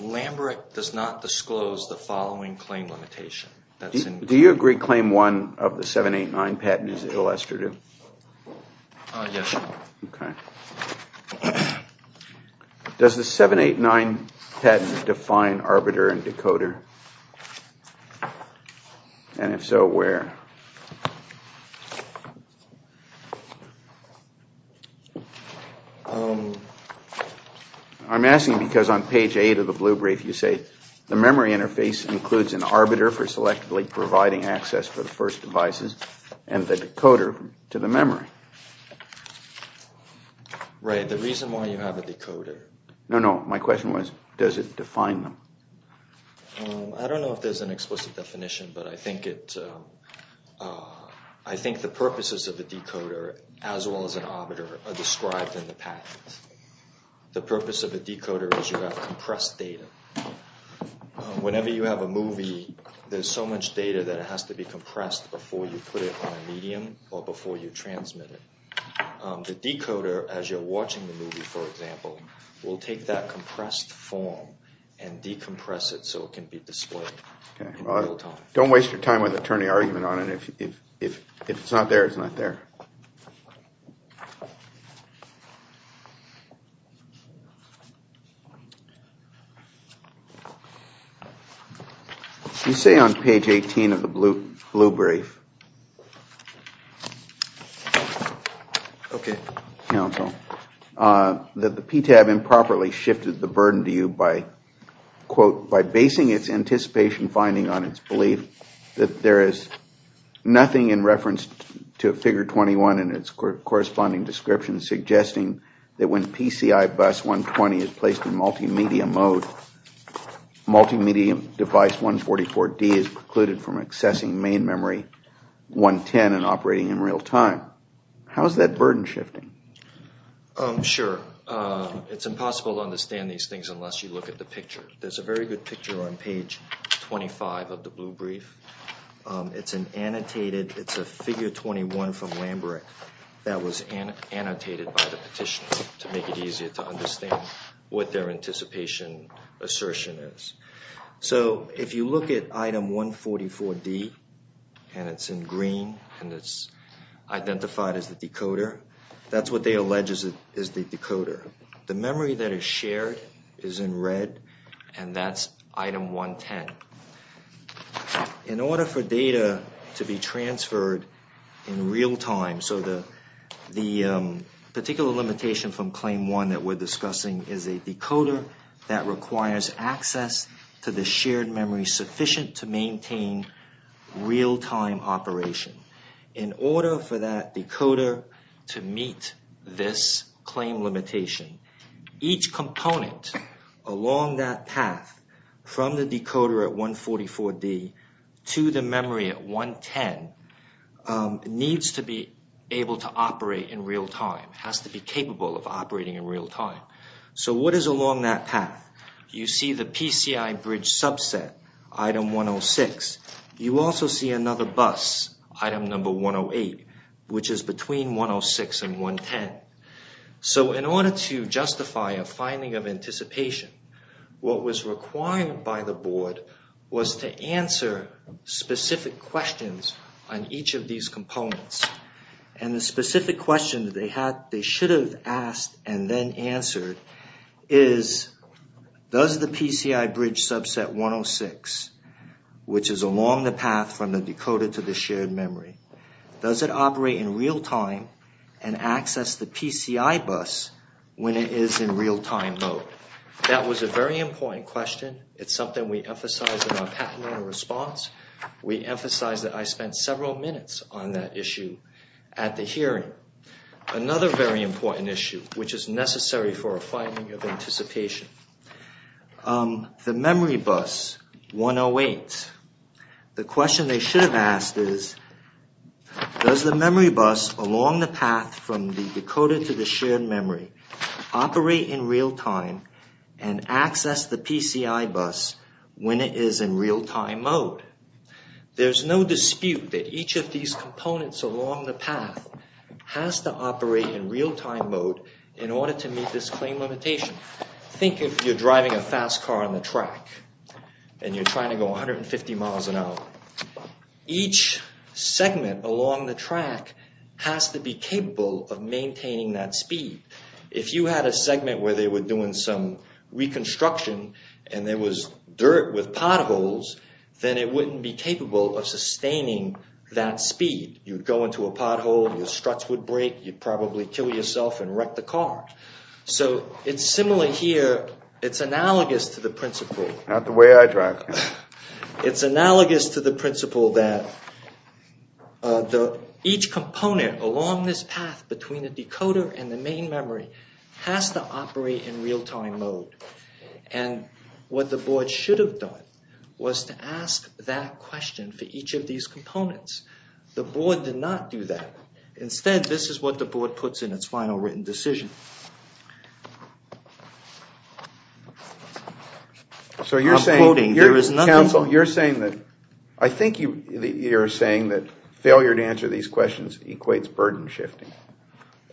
LAMBRECHT does not disclose the following claim limitation. Do you agree claim 1 of the 789 patent is illustrative? Yes. Does the 789 patent define arbiter and decoder? And if so, where? I'm asking because on page 8 of the blue brief you say the memory interface includes an arbiter for selectively providing access for the first devices and the decoder to the memory. Right, the reason why you have a decoder. No, no, my question was does it define them? I don't know if there's an explicit definition, but I think the purposes of the decoder as well as an arbiter are described in the patent. The purpose of a decoder is you have compressed data. Whenever you have a movie, there's so much data that it has to be compressed before you put it on a medium or before you transmit it. The decoder, as you're watching the movie, for example, will take that compressed form and decompress it so it can be displayed in real time. Don't waste your time with attorney argument on it. If it's not there, it's not there. You say on page 18 of the blue brief that the PTAB improperly shifted the burden to you by, quote, in its corresponding description suggesting that when PCI bus 120 is placed in multimedia mode, multimedia device 144D is precluded from accessing main memory 110 and operating in real time. How is that burden shifting? Sure. It's impossible to understand these things unless you look at the picture. There's a very good picture on page 25 of the blue brief. It's an annotated. It's a figure 21 from Lambrecht that was annotated by the petitioner to make it easier to understand what their anticipation assertion is. So if you look at item 144D and it's in green and it's identified as the decoder, that's what they allege is the decoder. The memory that is shared is in red and that's item 110. In order for data to be transferred in real time, so the particular limitation from claim one that we're discussing is a decoder that requires access to the shared memory sufficient to maintain real time operation. In order for that decoder to meet this claim limitation, each component along that path from the decoder at 144D to the memory at 110 needs to be able to operate in real time, has to be capable of operating in real time. So what is along that path? You see the PCI bridge subset, item 106. You also see another bus, item number 108, which is between 106 and 110. So in order to justify a finding of anticipation, what was required by the board was to answer specific questions on each of these components. And the specific question that they should have asked and then answered is, does the PCI bridge subset 106, which is along the path from the decoder to the shared memory, does it operate in real time and access the PCI bus when it is in real time mode? That was a very important question. It's something we emphasized in our patent owner response. We emphasized that I spent several minutes on that issue at the hearing. Another very important issue, which is necessary for a finding of anticipation, the memory bus 108. The question they should have asked is, does the memory bus along the path from the decoder to the shared memory operate in real time and access the PCI bus when it is in real time mode? There's no dispute that each of these components along the path has to operate in real time mode in order to meet this claim limitation. Think if you're driving a fast car on the track and you're trying to go 150 miles an hour. Each segment along the track has to be capable of maintaining that speed. If you had a segment where they were doing some reconstruction and there was dirt with potholes, then it wouldn't be capable of sustaining that speed. You'd go into a pothole, your struts would break, you'd probably kill yourself and wreck the car. It's similar here. It's analogous to the principle. Not the way I drive. It's analogous to the principle that each component along this path between the decoder and the main memory has to operate in real time mode. What the board should have done was to ask that question for each of these components. The board did not do that. Instead, this is what the board puts in its final written decision. I'm quoting, there is nothing... Counsel, you're saying that, I think you're saying that failure to answer these questions equates burden shifting.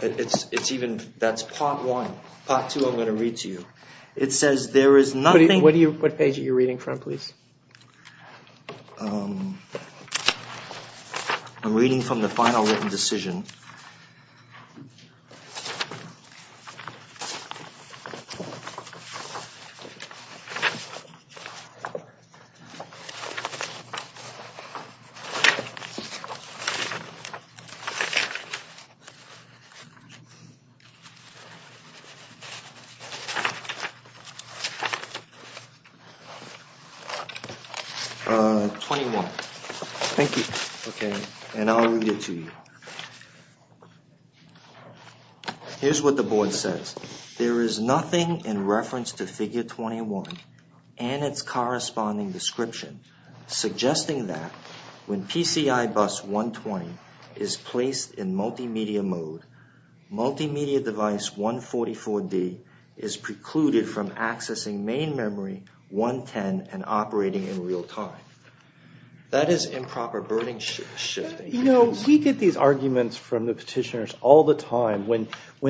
That's part one. Part two I'm going to read to you. It says there is nothing... What page are you reading from, please? I'm reading from the final written decision. 21. Thank you. And I'll read it to you. Here's what the board says. There is nothing in reference to figure 21 and its corresponding description suggesting that when PCI bus 120 is placed in multimedia mode, multimedia device 144D is precluded from accessing main memory 110 and operating in real time. That is improper burden shifting. You know, we get these arguments from the petitioners all the time when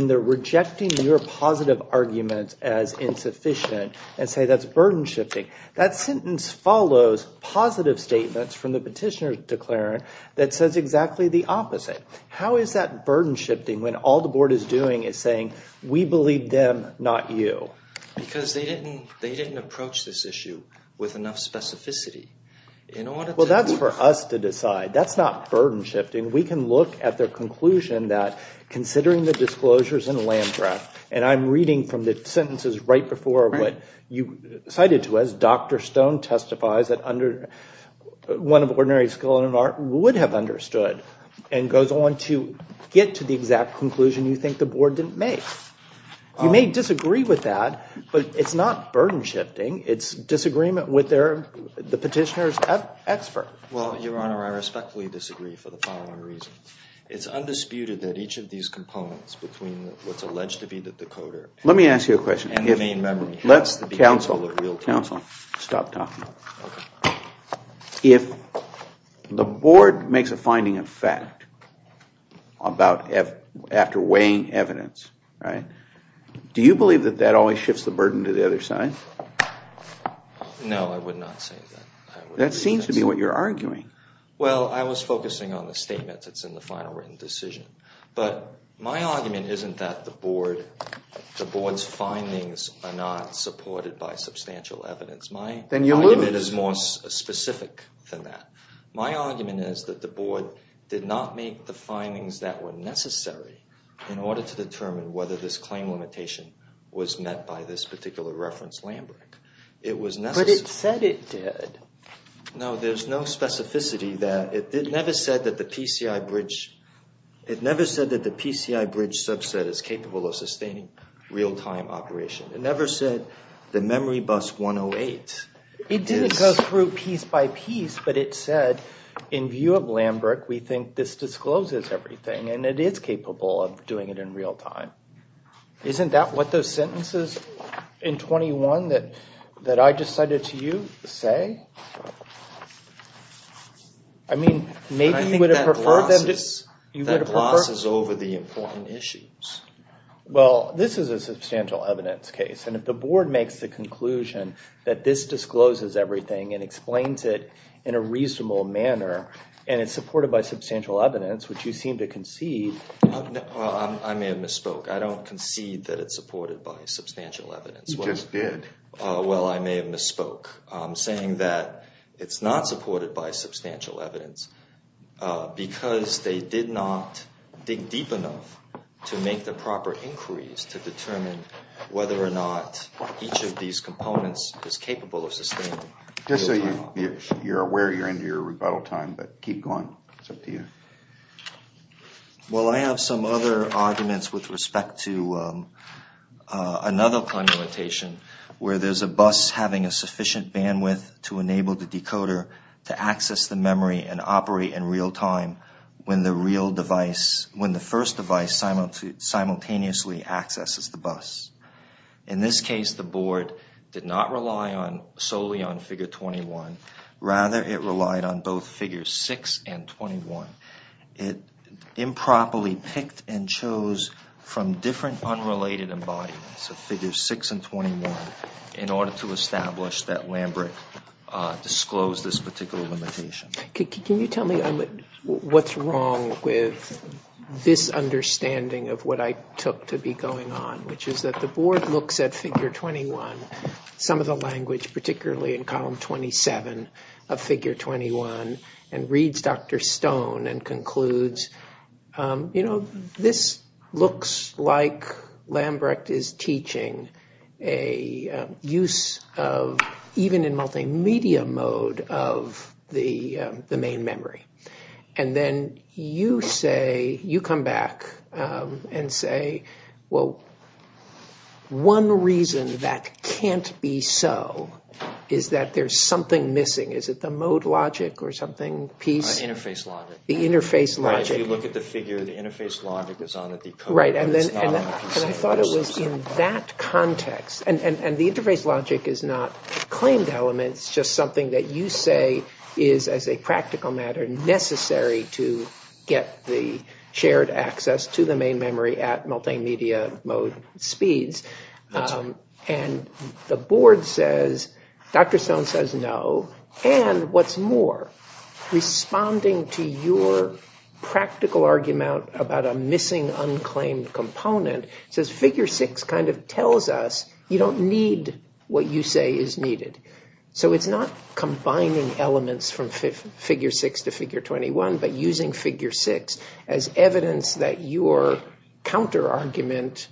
they're rejecting your positive arguments as insufficient and say that's burden shifting. That sentence follows positive statements from the petitioner's declarant that says exactly the opposite. How is that burden shifting when all the board is doing is saying we believe them, not you? Because they didn't approach this issue with enough specificity in order to... Well, that's for us to decide. That's not burden shifting. We can look at their conclusion that considering the disclosures in the land draft, and I'm reading from the sentences right before what you cited to us. Dr. Stone testifies that one of ordinary skill and an art would have understood and goes on to get to the exact conclusion you think the board didn't make. You may disagree with that, but it's not burden shifting. It's disagreement with the petitioner's expert. Well, Your Honor, I respectfully disagree for the following reasons. It's undisputed that each of these components between what's alleged to be the decoder... Let me ask you a question. If the board makes a finding of fact after weighing evidence, do you believe that that always shifts the burden to the other side? No, I would not say that. That seems to be what you're arguing. Well, I was focusing on the statements that's in the final written decision. But my argument isn't that the board's findings are not supported by substantial evidence. Then you lose. My argument is more specific than that. My argument is that the board did not make the findings that were necessary in order to determine whether this claim limitation was met by this particular reference land brick. But it said it did. No, there's no specificity there. It never said that the PCI bridge subset is capable of sustaining real-time operation. It never said the memory bus 108... It did go through piece by piece, but it said, in view of land brick, we think this discloses everything. And it is capable of doing it in real time. Isn't that what those sentences in 21 that I just cited to you say? I mean, maybe you would have preferred them just... That glosses over the important issues. Well, this is a substantial evidence case. And if the board makes the conclusion that this discloses everything and explains it in a reasonable manner, and it's supported by substantial evidence, which you seem to concede... I may have misspoke. I don't concede that it's supported by substantial evidence. You just did. Well, I may have misspoke, saying that it's not supported by substantial evidence because they did not dig deep enough to make the proper inquiries to determine whether or not each of these components is capable of sustaining... Just so you're aware you're into your rebuttal time, but keep going. It's up to you. Well, I have some other arguments with respect to another connotation where there's a bus having a sufficient bandwidth to enable the decoder to access the memory and operate in real time when the first device simultaneously accesses the bus. In this case, the board did not rely solely on figure 21. Rather, it relied on both figures 6 and 21. It improperly picked and chose from different unrelated embodiments of figures 6 and 21 in order to establish that Lambrecht disclosed this particular limitation. Can you tell me what's wrong with this understanding of what I took to be going on, which is that the board looks at figure 21, some of the language, particularly in column 27 of figure 21, and reads Dr. Stone and concludes, you know, this looks like Lambrecht is teaching a use of, even in multimedia mode, of the main memory. And then you say, you come back and say, well, one reason that can't be so is that there's something missing. Is it the mode logic or something? Interface logic. The interface logic. If you look at the figure, the interface logic is on the decoder. Right. And I thought it was in that context. And the interface logic is not claimed element. It's just something that you say is, as a practical matter, necessary to get the shared access to the main memory at multimedia mode speeds. And the board says, Dr. Stone says no. And what's more, responding to your practical argument about a missing unclaimed component, says figure six kind of tells us you don't need what you say is needed. So it's not combining elements from figure six to figure 21, but using figure six as evidence that your counterargument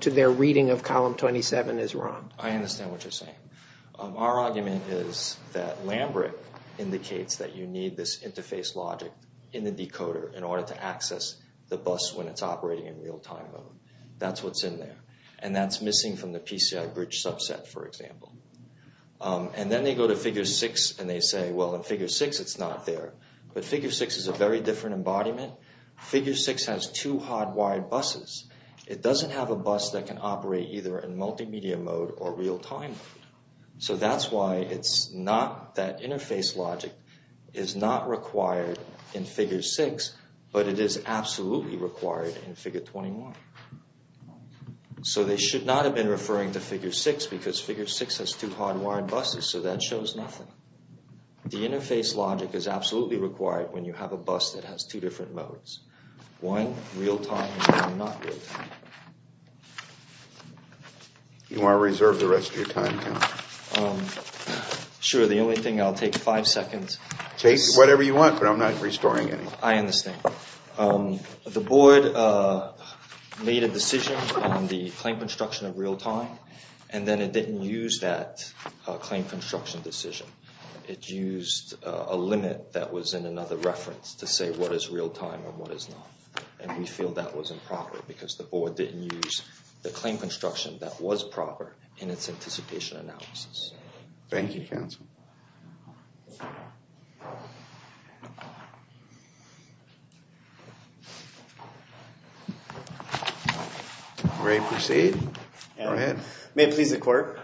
to their reading of column 27 is wrong. I understand what you're saying. Our argument is that Lambrec indicates that you need this interface logic in the decoder in order to access the bus when it's operating in real time. That's what's in there. And that's missing from the PCI bridge subset, for example. And then they go to figure six and they say, well, in figure six, it's not there. But figure six is a very different embodiment. Figure six has two hardwired buses. It doesn't have a bus that can operate either in multimedia mode or real time. So that's why it's not that interface logic is not required in figure six, but it is absolutely required in figure 21. So they should not have been referring to figure six because figure six has two hardwired buses. So that shows nothing. The interface logic is absolutely required when you have a bus that has two different modes. One real time and one not real time. You want to reserve the rest of your time? Sure. The only thing I'll take five seconds. Take whatever you want, but I'm not restoring any. I understand. The board made a decision on the claim construction of real time, and then it didn't use that claim construction decision. It used a limit that was in another reference to say what is real time and what is not. And we feel that was improper because the board didn't use the claim construction that was proper in its anticipation analysis. Thank you, counsel. Ready to proceed? Go ahead. May it please the court.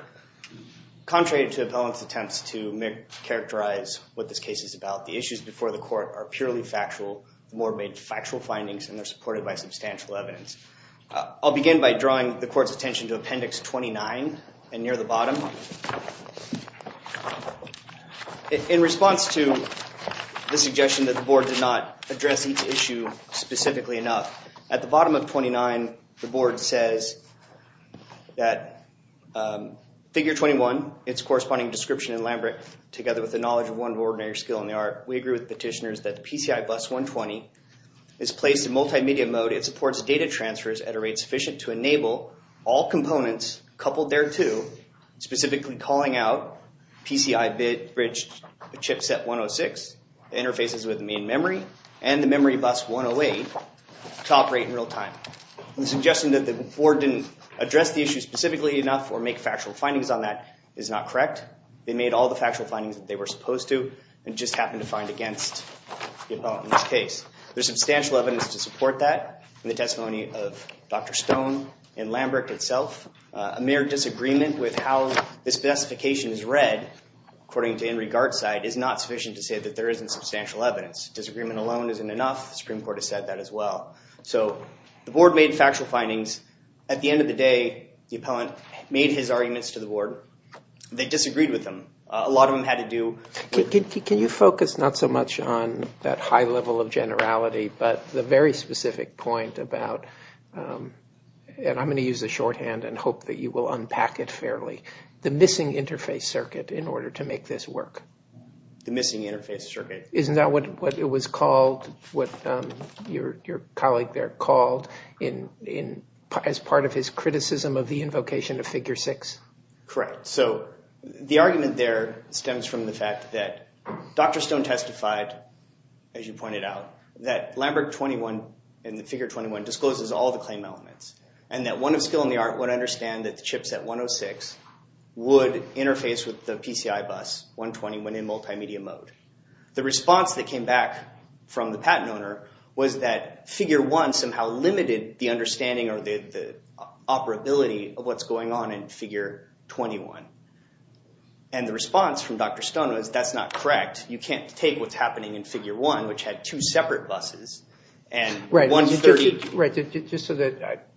Contrary to appellant's attempts to characterize what this case is about, the issues before the court are purely factual. The board made factual findings and they're supported by substantial evidence. I'll begin by drawing the court's attention to appendix 29 and near the bottom. In response to the suggestion that the board did not address each issue specifically enough, at the bottom of 29, the board says that figure 21, its corresponding description in Lambert, together with the knowledge of one ordinary skill in the art, we agree with petitioners that the PCI bus 120 is placed in multimedia mode. It supports data transfers at a rate sufficient to enable all components coupled thereto, specifically calling out PCI bit bridge chipset 106, interfaces with the main memory, and the memory bus 108 to operate in real time. The suggestion that the board didn't address the issue specifically enough or make factual findings on that is not correct. They made all the factual findings that they were supposed to and just happened to find against the appellant in this case. There's substantial evidence to support that in the testimony of Dr. Stone and Lambert itself. A mere disagreement with how this specification is read, according to Henry Gard's side, is not sufficient to say that there isn't substantial evidence. Disagreement alone isn't enough. The Supreme Court has said that as well. So the board made factual findings. At the end of the day, the appellant made his arguments to the board. They disagreed with them. A lot of them had to do with – Can you focus not so much on that high level of generality but the very specific point about – and I'm going to use the shorthand and hope that you will unpack it fairly – the missing interface circuit in order to make this work? The missing interface circuit. Isn't that what it was called, what your colleague there called as part of his criticism of the invocation of Figure 6? Correct. So the argument there stems from the fact that Dr. Stone testified, as you pointed out, that Lambert 21 and the Figure 21 discloses all the claim elements and that one of skill in the art would understand that the chipset 106 would interface with the PCI bus 120 when in multimedia mode. The response that came back from the patent owner was that Figure 1 somehow limited the understanding or the operability of what's going on in Figure 21. And the response from Dr. Stone was that's not correct. You can't take what's happening in Figure 1, which had two separate buses, and – Right, just so that –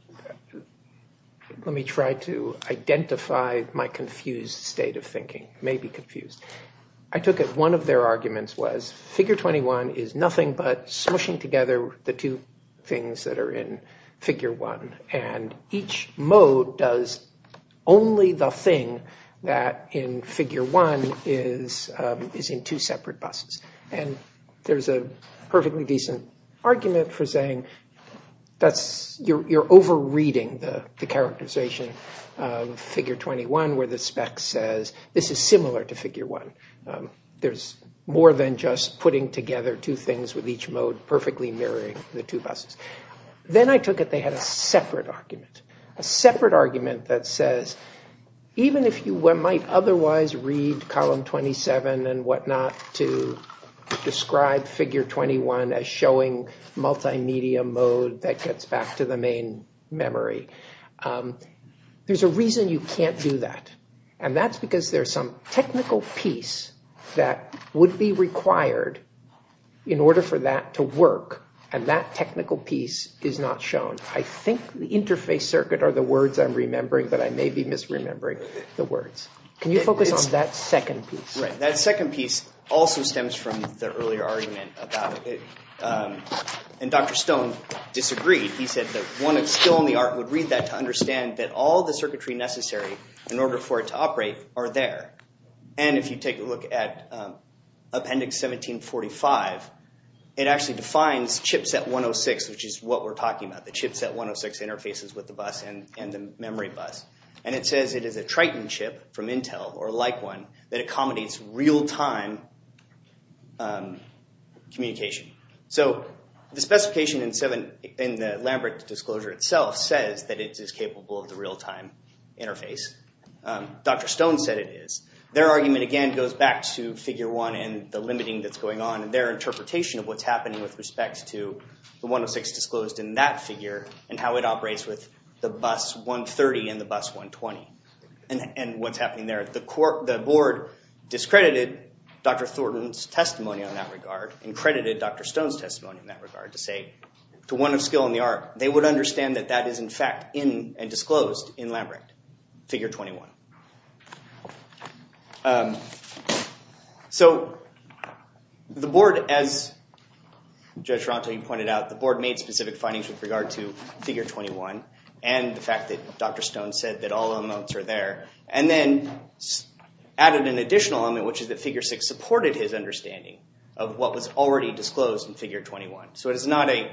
let me try to identify my confused state of thinking, maybe confused. I took it one of their arguments was Figure 21 is nothing but smushing together the two things that are in Figure 1 and each mode does only the thing that in Figure 1 is in two separate buses. And there's a perfectly decent argument for saying you're over-reading the characterization of Figure 21 where the spec says this is similar to Figure 1. There's more than just putting together two things with each mode perfectly mirroring the two buses. Then I took it they had a separate argument. A separate argument that says even if you might otherwise read Column 27 and whatnot to describe Figure 21 as showing multimedia mode that gets back to the main memory, there's a reason you can't do that. And that's because there's some technical piece that would be required in order for that to work. And that technical piece is not shown. I think the interface circuit are the words I'm remembering, but I may be misremembering the words. Can you focus on that second piece? Right, that second piece also stems from the earlier argument about it. And Dr. Stone disagreed. He said that one of skill in the art would read that to understand that all the circuitry necessary in order for it to operate are there. And if you take a look at Appendix 1745, it actually defines Chipset 106, which is what we're talking about, the Chipset 106 interfaces with the bus and the memory bus. And it says it is a Triton chip from Intel or like one that accommodates real-time communication. So the specification in the Lambert Disclosure itself says that it is capable of the real-time interface. Dr. Stone said it is. Their argument, again, goes back to Figure 1 and the limiting that's going on and their interpretation of what's happening with respect to the 106 disclosed in that figure and how it operates with the bus 130 and the bus 120 and what's happening there. The board discredited Dr. Thornton's testimony on that regard and credited Dr. Stone's testimony in that regard to say to one of skill in the art, they would understand that that is, in fact, in and disclosed in Lambert, Figure 21. So the board, as Judge Toronto, you pointed out, the board made specific findings with regard to Figure 21 and the fact that Dr. Stone said that all amounts are there and then added an additional element, which is that Figure 6 supported his understanding of what was already disclosed in Figure 21. So it is not a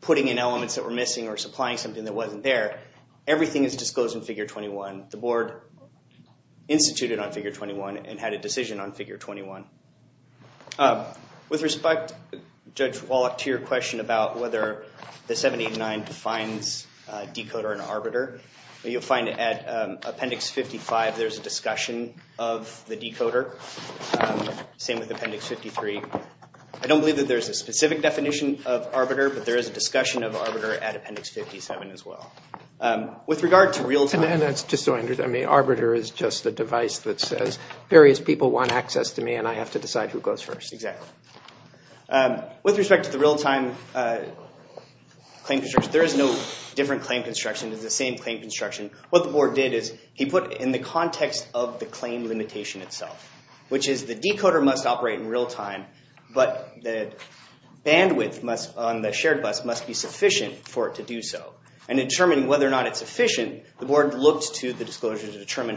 putting in elements that were missing or supplying something that wasn't there. Everything is disclosed in Figure 21. The board instituted on Figure 21 and had a decision on Figure 21. With respect, Judge Wallach, to your question about whether the 789 defines decoder and arbiter, you'll find at Appendix 55 there's a discussion of the decoder, same with Appendix 53. I don't believe that there's a specific definition of arbiter, but there is a discussion of arbiter at Appendix 57 as well. With regard to real-time- And that's just so I understand. I mean, arbiter is just a device that says various people want access to me and I have to decide who goes first. Exactly. With respect to the real-time claim construction, there is no different claim construction. It's the same claim construction. What the board did is he put in the context of the claim limitation itself, which is the decoder must operate in real-time, but the bandwidth on the shared bus must be sufficient for it to do so. And to determine whether or not it's efficient, the board looked to the disclosure to determine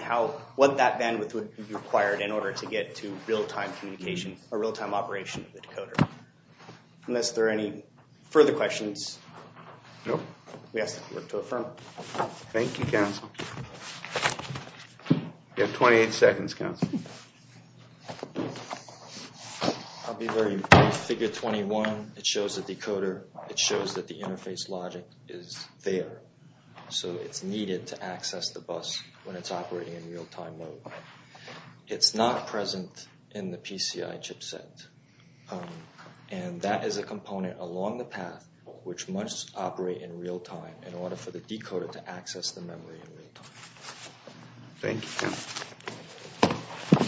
what that bandwidth would be required in order to get to real-time communication or real-time operation of the decoder. Unless there are any further questions. We ask that you work to affirm. Thank you, counsel. You have 28 seconds, counsel. I'll be very brief. Figure 21, it shows the decoder. It shows that the interface logic is there. So it's needed to access the bus when it's operating in real-time mode. It's not present in the PCI chipset. And that is a component along the path which must operate in real-time in order for the decoder to access the memory in real-time. Thank you.